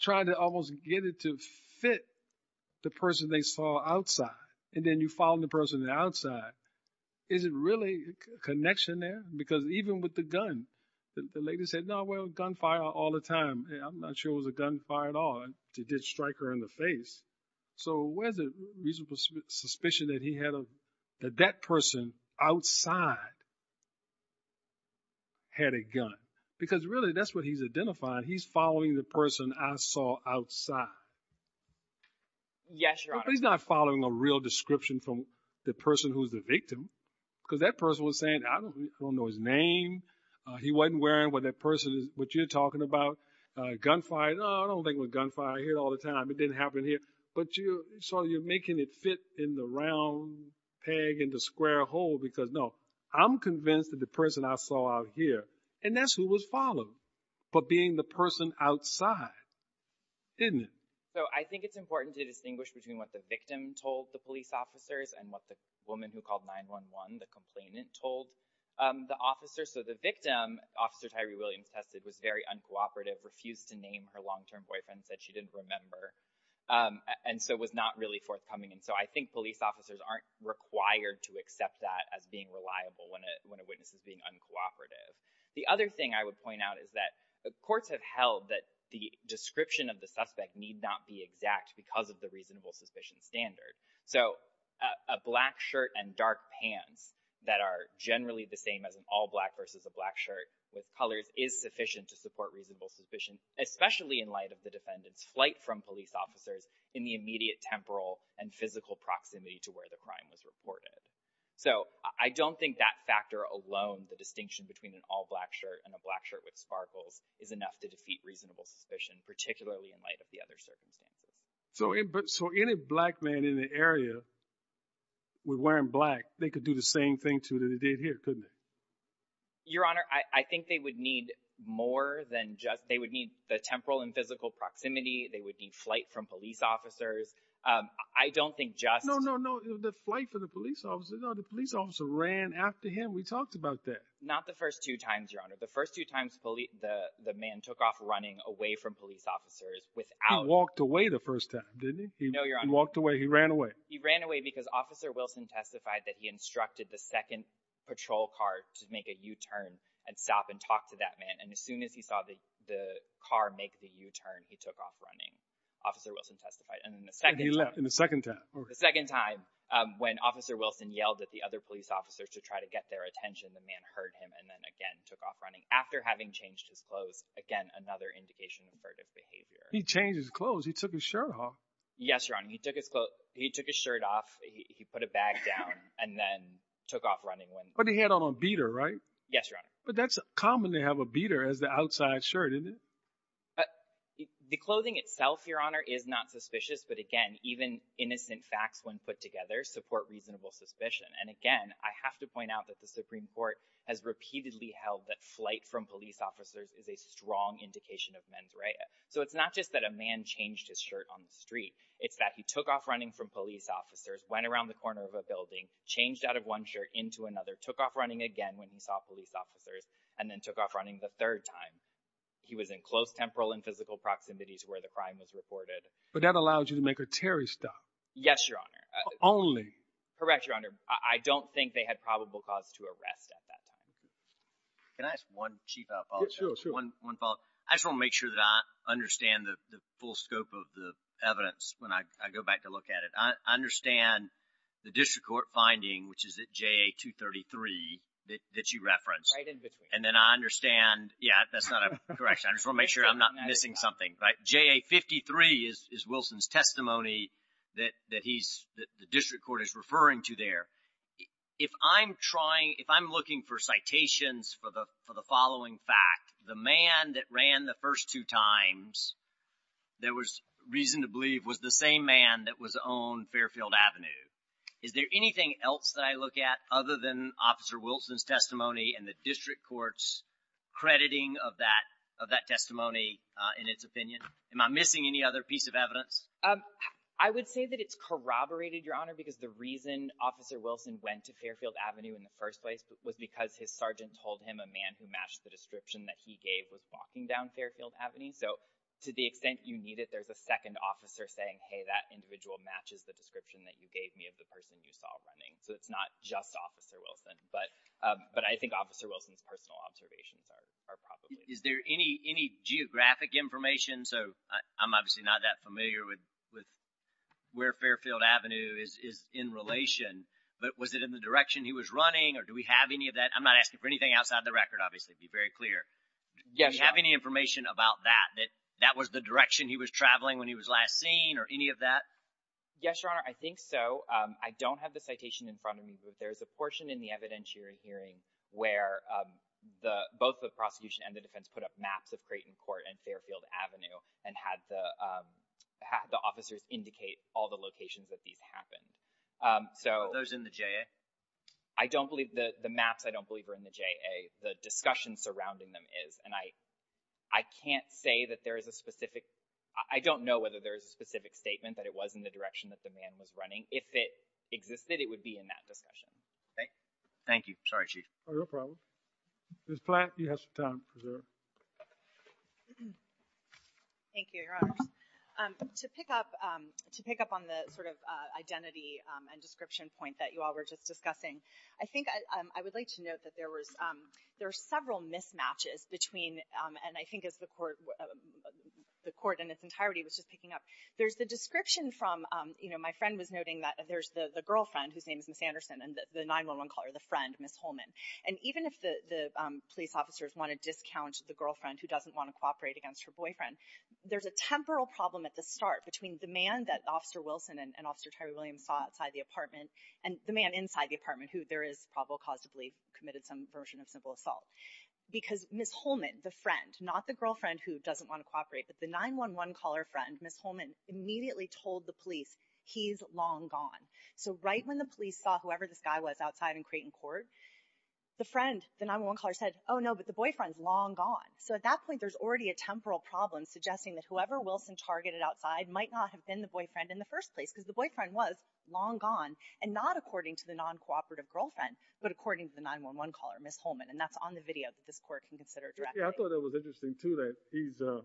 Trying to almost get it to fit the person they saw outside and then you found the person outside, is it really a connection there? Because even with the gun, the lady said, no, well, gunfire all the time. I'm not sure it was a gunfire at all. They did strike her in the face. So where's the reasonable suspicion that he had of that that person outside had a gun? Because, really, that's what he's identifying. He's following the person I saw outside. Yes, Your Honor. But he's not following a real description from the person who's the victim because that person was saying, I don't know his name. He wasn't wearing what you're talking about, gunfire. No, I don't think it was gunfire. I hear it all the time. It didn't happen here. So you're making it fit in the round peg in the square hole because, no, I'm convinced that the person I saw out here, and that's who was followed. But being the person outside, isn't it? So I think it's important to distinguish between what the victim told the police officers and what the woman who called 911, the complainant, told the officers. So the victim, Officer Tyree Williams tested, was very uncooperative, refused to name her long-term boyfriend, said she didn't remember, and so was not really forthcoming. And so I think police officers aren't required to accept that as being reliable when a witness is being uncooperative. The other thing I would point out is that courts have held that the description of the suspect need not be exact because of the reasonable suspicion standard. So a black shirt and dark pants that are generally the same as an all-black versus a black shirt with colors is sufficient to support reasonable suspicion, especially in light of the defendant's flight from police officers in the immediate temporal and physical proximity to where the crime was reported. So I don't think that factor alone, the distinction between an all-black shirt and a black shirt with sparkles, is enough to defeat reasonable suspicion, particularly in light of the other circumstances. So any black man in the area with wearing black, they could do the same thing, too, that they did here, couldn't they? Your Honor, I think they would need more than just, they would need the temporal and physical proximity, they would need flight from police officers. I don't think just... No, no, no, the flight from the police officer. No, the police officer ran after him. We talked about that. Not the first two times, Your Honor. The first two times the man took off running away from police officers without... He walked away the first time, didn't he? No, Your Honor. He walked away, he ran away. He ran away because Officer Wilson testified that he instructed the second patrol car to make a U-turn and stop and talk to that man. And as soon as he saw the car make the U-turn, he took off running. Officer Wilson testified. And he left in the second time. The second time, when Officer Wilson yelled at the other police officers to try to get their attention, the man heard him and then again took off running. After having changed his clothes, again, another indication of avertive behavior. He changed his clothes. He took his shirt off. Yes, Your Honor. He took his shirt off, he put a bag down, and then took off running. But he had on a beater, right? Yes, Your Honor. But that's common to have a beater as the outside shirt, isn't it? The clothing itself, Your Honor, is not suspicious, but again, even innocent facts when put together support reasonable suspicion. And again, I have to point out that the Supreme Court has repeatedly held that flight from police officers is a strong indication of mens rea. So it's not just that a man changed his shirt on the street. It's that he took off running from police officers, went around the corner of a building, changed out of one shirt into another, took off running again when he saw police officers, and then took off running the third time. He was in close temporal and physical proximity to where the crime was reported. But that allows you to make a Terry stop? Yes, Your Honor. Only? Correct, Your Honor. I don't think they had probable cause to arrest at that time. Can I ask one chief follow-up? Sure, sure. One follow-up. I just want to make sure that I understand the full scope of the evidence when I go back to look at it. I understand the district court finding, which is at JA-233, that you referenced. Right in between. And then I understand, yeah, that's not a correction. I just want to make sure I'm not missing something. Right? JA-53 is Wilson's testimony that he's, that the district court is referring to there. If I'm trying, if I'm looking for citations for the following fact, the man that ran the first two times there was reason to believe was the same man that was on Fairfield Avenue. Is there anything else that I look at other than Officer Wilson's testimony and the district court's crediting of that testimony in its opinion? Am I missing any other piece of evidence? I would say that it's corroborated, Your Honor, because the reason Officer Wilson went to Fairfield Avenue in the first place was because his sergeant told him a man who matched the description that he gave was walking down Fairfield Avenue. So to the extent you need it, there's a second officer saying, hey, that individual matches the description that you gave me of the person you saw running. So it's not just Officer Wilson. But I think Officer Wilson's personal observations are probably. Is there any geographic information? So I'm obviously not that familiar with where Fairfield Avenue is in relation, but was it in the direction he was running or do we have any of that? I'm not asking for anything outside the record, obviously, to be very clear. Yes, Your Honor. Do you have any information about that, that that was the direction he was traveling when he was last seen or any of that? Yes, Your Honor, I think so. I don't have the citation in front of me, but there's a portion in the evidentiary hearing where both the prosecution and the defense put up maps of Creighton Court and Fairfield Avenue and had the officers indicate all the locations that these happened. Were those in the JA? The maps I don't believe are in the JA. The discussion surrounding them is. And I can't say that there is a specific— I don't know whether there is a specific statement that it was in the direction that the man was running. If it existed, it would be in that discussion. Thank you. Sorry, Chief. No problem. Ms. Platt, you have some time. Thank you, Your Honors. To pick up on the sort of identity and description point that you all were just discussing, I think I would like to note that there were several mismatches between— and I think as the Court in its entirety was just picking up, there's the description from—my friend was noting that there's the girlfriend, whose name is Ms. Anderson, and the 911 caller, the friend, Ms. Holman. And even if the police officers want to discount the girlfriend who doesn't want to cooperate against her boyfriend, there's a temporal problem at the start between the man that Officer Wilson and Officer Terry Williams saw outside the apartment and the man inside the apartment who there is probable cause to believe committed some version of civil assault. Because Ms. Holman, the friend, not the girlfriend who doesn't want to cooperate, but the 911 caller friend, Ms. Holman, immediately told the police he's long gone. So right when the police saw whoever this guy was outside in Creighton Court, the friend, the 911 caller, said, oh no, but the boyfriend's long gone. So at that point there's already a temporal problem suggesting that whoever Wilson targeted outside might not have been the boyfriend in the first place because the boyfriend was long gone and not according to the non-cooperative girlfriend but according to the 911 caller, Ms. Holman. And that's on the video that this Court can consider directly. Yeah, I thought that was interesting, too, that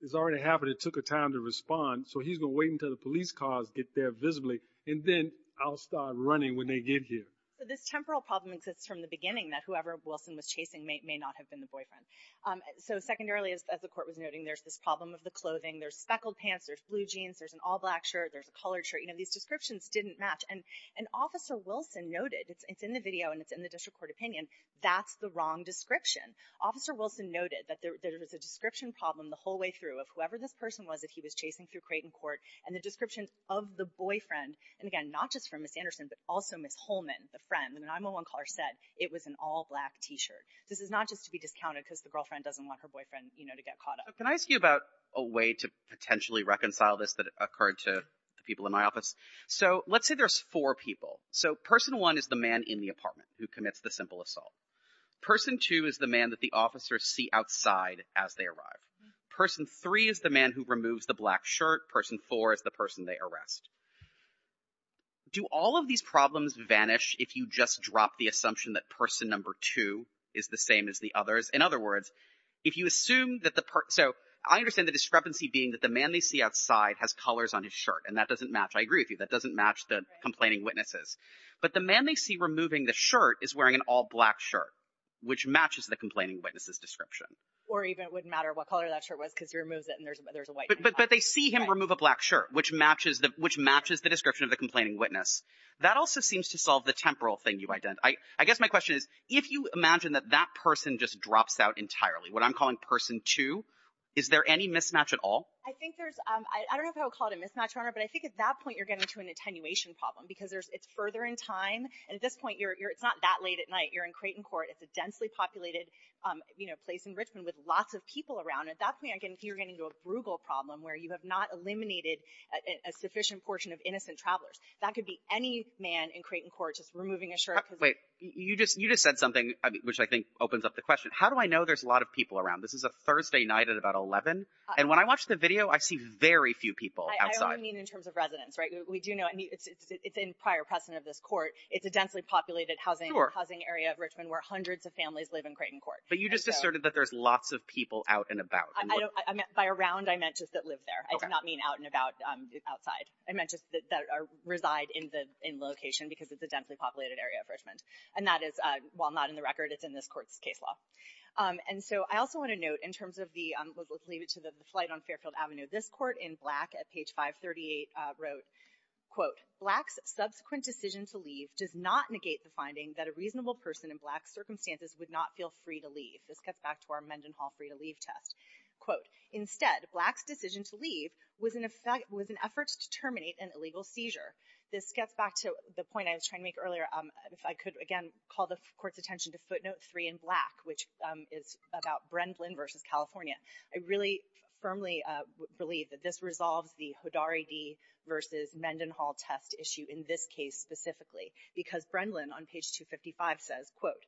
it's already happened, it took a time to respond, so he's going to wait until the police cars get there visibly and then I'll start running when they get here. But this temporal problem exists from the beginning that whoever Wilson was chasing may not have been the boyfriend. So secondarily, as the Court was noting, there's this problem of the clothing, there's speckled pants, there's blue jeans, there's an all-black shirt, there's a colored shirt, you know, these descriptions didn't match. And Officer Wilson noted, it's in the video and it's in the district court opinion, that's the wrong description. Officer Wilson noted that there was a description problem the whole way through of whoever this person was that he was chasing through Creighton Court and the description of the boyfriend, and again, not just from Ms. Anderson, but also Ms. Holman, the friend, the 911 caller said it was an all-black T-shirt. This is not just to be discounted because the girlfriend doesn't want her boyfriend, you know, to get caught up. Can I ask you about a way to potentially reconcile this that occurred to the people in my office? So let's say there's four people. So Person 1 is the man in the apartment who commits the simple assault. Person 2 is the man that the officers see outside as they arrive. Person 3 is the man who removes the black shirt. Person 4 is the person they arrest. Do all of these problems vanish if you just drop the assumption that Person Number 2 is the same as the others? In other words, if you assume that the person – so I understand the discrepancy being that the man they see outside has colors on his shirt and that doesn't match. I agree with you, that doesn't match the complaining witnesses. But the man they see removing the shirt is wearing an all-black shirt, which matches the complaining witness's description. Or even it wouldn't matter what color that shirt was because he removes it and there's a white. But they see him remove a black shirt, which matches the description of the complaining witness. That also seems to solve the temporal thing you identified. I guess my question is if you imagine that that person just drops out entirely, what I'm calling Person 2, is there any mismatch at all? I think there's – I don't know if I would call it a mismatch, Your Honor, but I think at that point you're getting into an attenuation problem because it's further in time and at this point it's not that late at night. You're in Creighton Court. It's a densely populated place in Richmond with lots of people around. At that point you're getting into a brugal problem where you have not eliminated a sufficient portion of innocent travelers. That could be any man in Creighton Court just removing a shirt. Wait, you just said something which I think opens up the question. How do I know there's a lot of people around? This is a Thursday night at about 11. And when I watch the video, I see very few people outside. I only mean in terms of residents, right? We do know – it's in prior precedent of this court. It's a densely populated housing area of Richmond where hundreds of families live in Creighton Court. But you just asserted that there's lots of people out and about. By around, I meant just that live there. I did not mean out and about outside. I meant just that reside in location because it's a densely populated area of Richmond. And that is, while not in the record, it's in this court's case law. And so I also want to note in terms of the – let's leave it to the flight on Fairfield Avenue. This court in Black at page 538 wrote, quote, Black's subsequent decision to leave does not negate the finding that a reasonable person in Black circumstances would not feel free to leave. This gets back to our Mendenhall free-to-leave test. Quote, instead, Black's decision to leave was an effort to terminate an illegal seizure. This gets back to the point I was trying to make earlier. If I could, again, call the court's attention to footnote three in Black, which is about Brendlin versus California. I really firmly believe that this resolves the Hodari v. Mendenhall test issue in this case specifically because Brendlin on page 255 says, quote,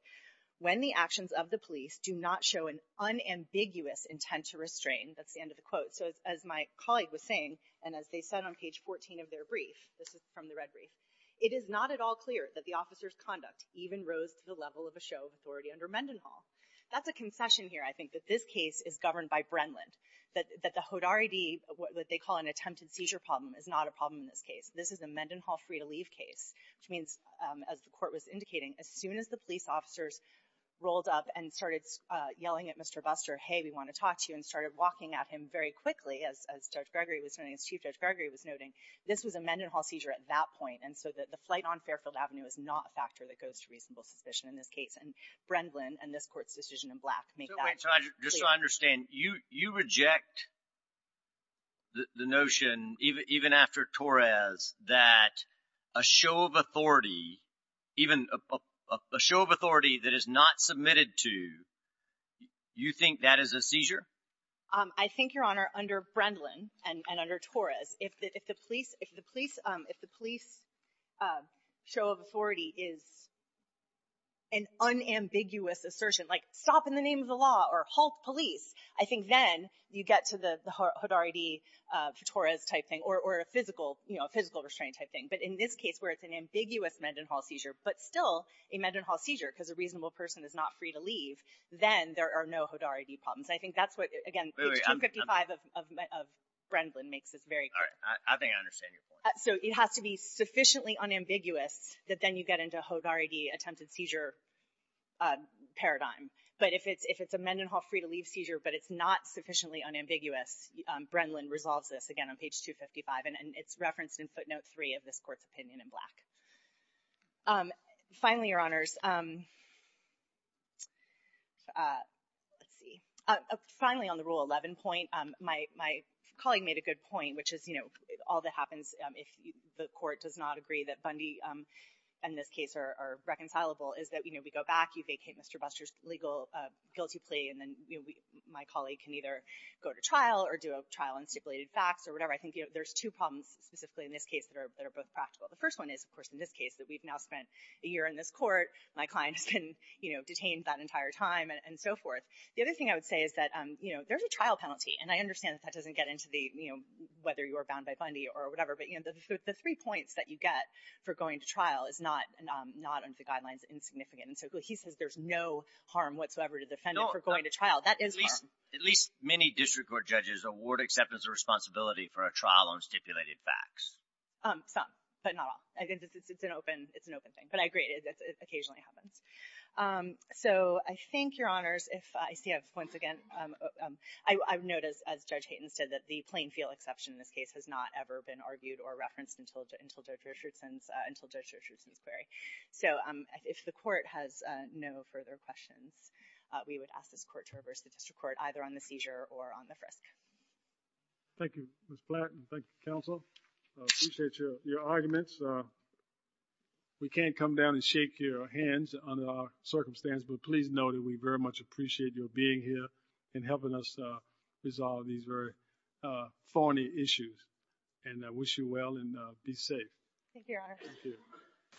when the actions of the police do not show an unambiguous intent to restrain – that's the end of the quote. So as my colleague was saying, and as they said on page 14 of their brief – this is from the red brief – it is not at all clear that the officer's conduct even rose to the level of a show of authority under Mendenhall. That's a concession here, I think, that this case is governed by Brendlin. That the Hodari D, what they call an attempted seizure problem, is not a problem in this case. This is a Mendenhall free-to-leave case, which means, as the court was indicating, as soon as the police officers rolled up and started yelling at Mr. Buster, hey, we want to talk to you, and started walking at him very quickly, as Chief Judge Gregory was noting, this was a Mendenhall seizure at that point. And so the flight on Fairfield Avenue is not a factor that goes to reasonable suspicion in this case, and Brendlin and this court's decision in black make that clear. So wait, so just so I understand, you reject the notion, even after Torres, that a show of authority, even a show of authority that is not submitted to, you think that is a seizure? I think, Your Honor, under Brendlin and under Torres, if the police show of authority is an unambiguous assertion, like stop in the name of the law or halt police, I think then you get to the Hodari D for Torres type thing, or a physical restraining type thing. But in this case, where it's an ambiguous Mendenhall seizure, but still a Mendenhall seizure, because a reasonable person is not free to leave, then there are no Hodari D problems. I think that's what, again, page 255 of Brendlin makes this very clear. All right. I think I understand your point. So it has to be sufficiently unambiguous that then you get into a Hodari D attempted seizure paradigm. But if it's a Mendenhall free to leave seizure, but it's not sufficiently unambiguous, Brendlin resolves this, again, on page 255. Finally, Your Honors, let's see. Finally, on the Rule 11 point, my colleague made a good point, which is all that happens if the court does not agree that Bundy and this case are reconcilable is that we go back, you vacate Mr. Buster's legal guilty plea, and then my colleague can either go to trial or do a trial on stipulated facts or whatever. I think there's two problems specifically in this case that are both practical. The first one is, of course, in this case that we've now spent a year in this court. My client has been detained that entire time and so forth. The other thing I would say is that there's a trial penalty, and I understand that that doesn't get into whether you are bound by Bundy or whatever, but the three points that you get for going to trial is not under the guidelines insignificant. So he says there's no harm whatsoever to the defendant for going to trial. That is harm. At least many district court judges award acceptance of responsibility for a trial on stipulated facts. Some, but not all. It's an open thing. But I agree. It occasionally happens. So I thank your honors. I see I have points again. I've noticed, as Judge Hayton said, that the plain feel exception in this case has not ever been argued or referenced until Judge Richardson's query. So if the court has no further questions, we would ask this court to reverse the district court either on the seizure or on the frisk. Thank you, Ms. Platt, and thank you, counsel. I appreciate your arguments. We can't come down and shake your hands under our circumstance, but please know that we very much appreciate your being here and helping us resolve these very thorny issues. And I wish you well, and be safe. Thank you, your honors. Thank you.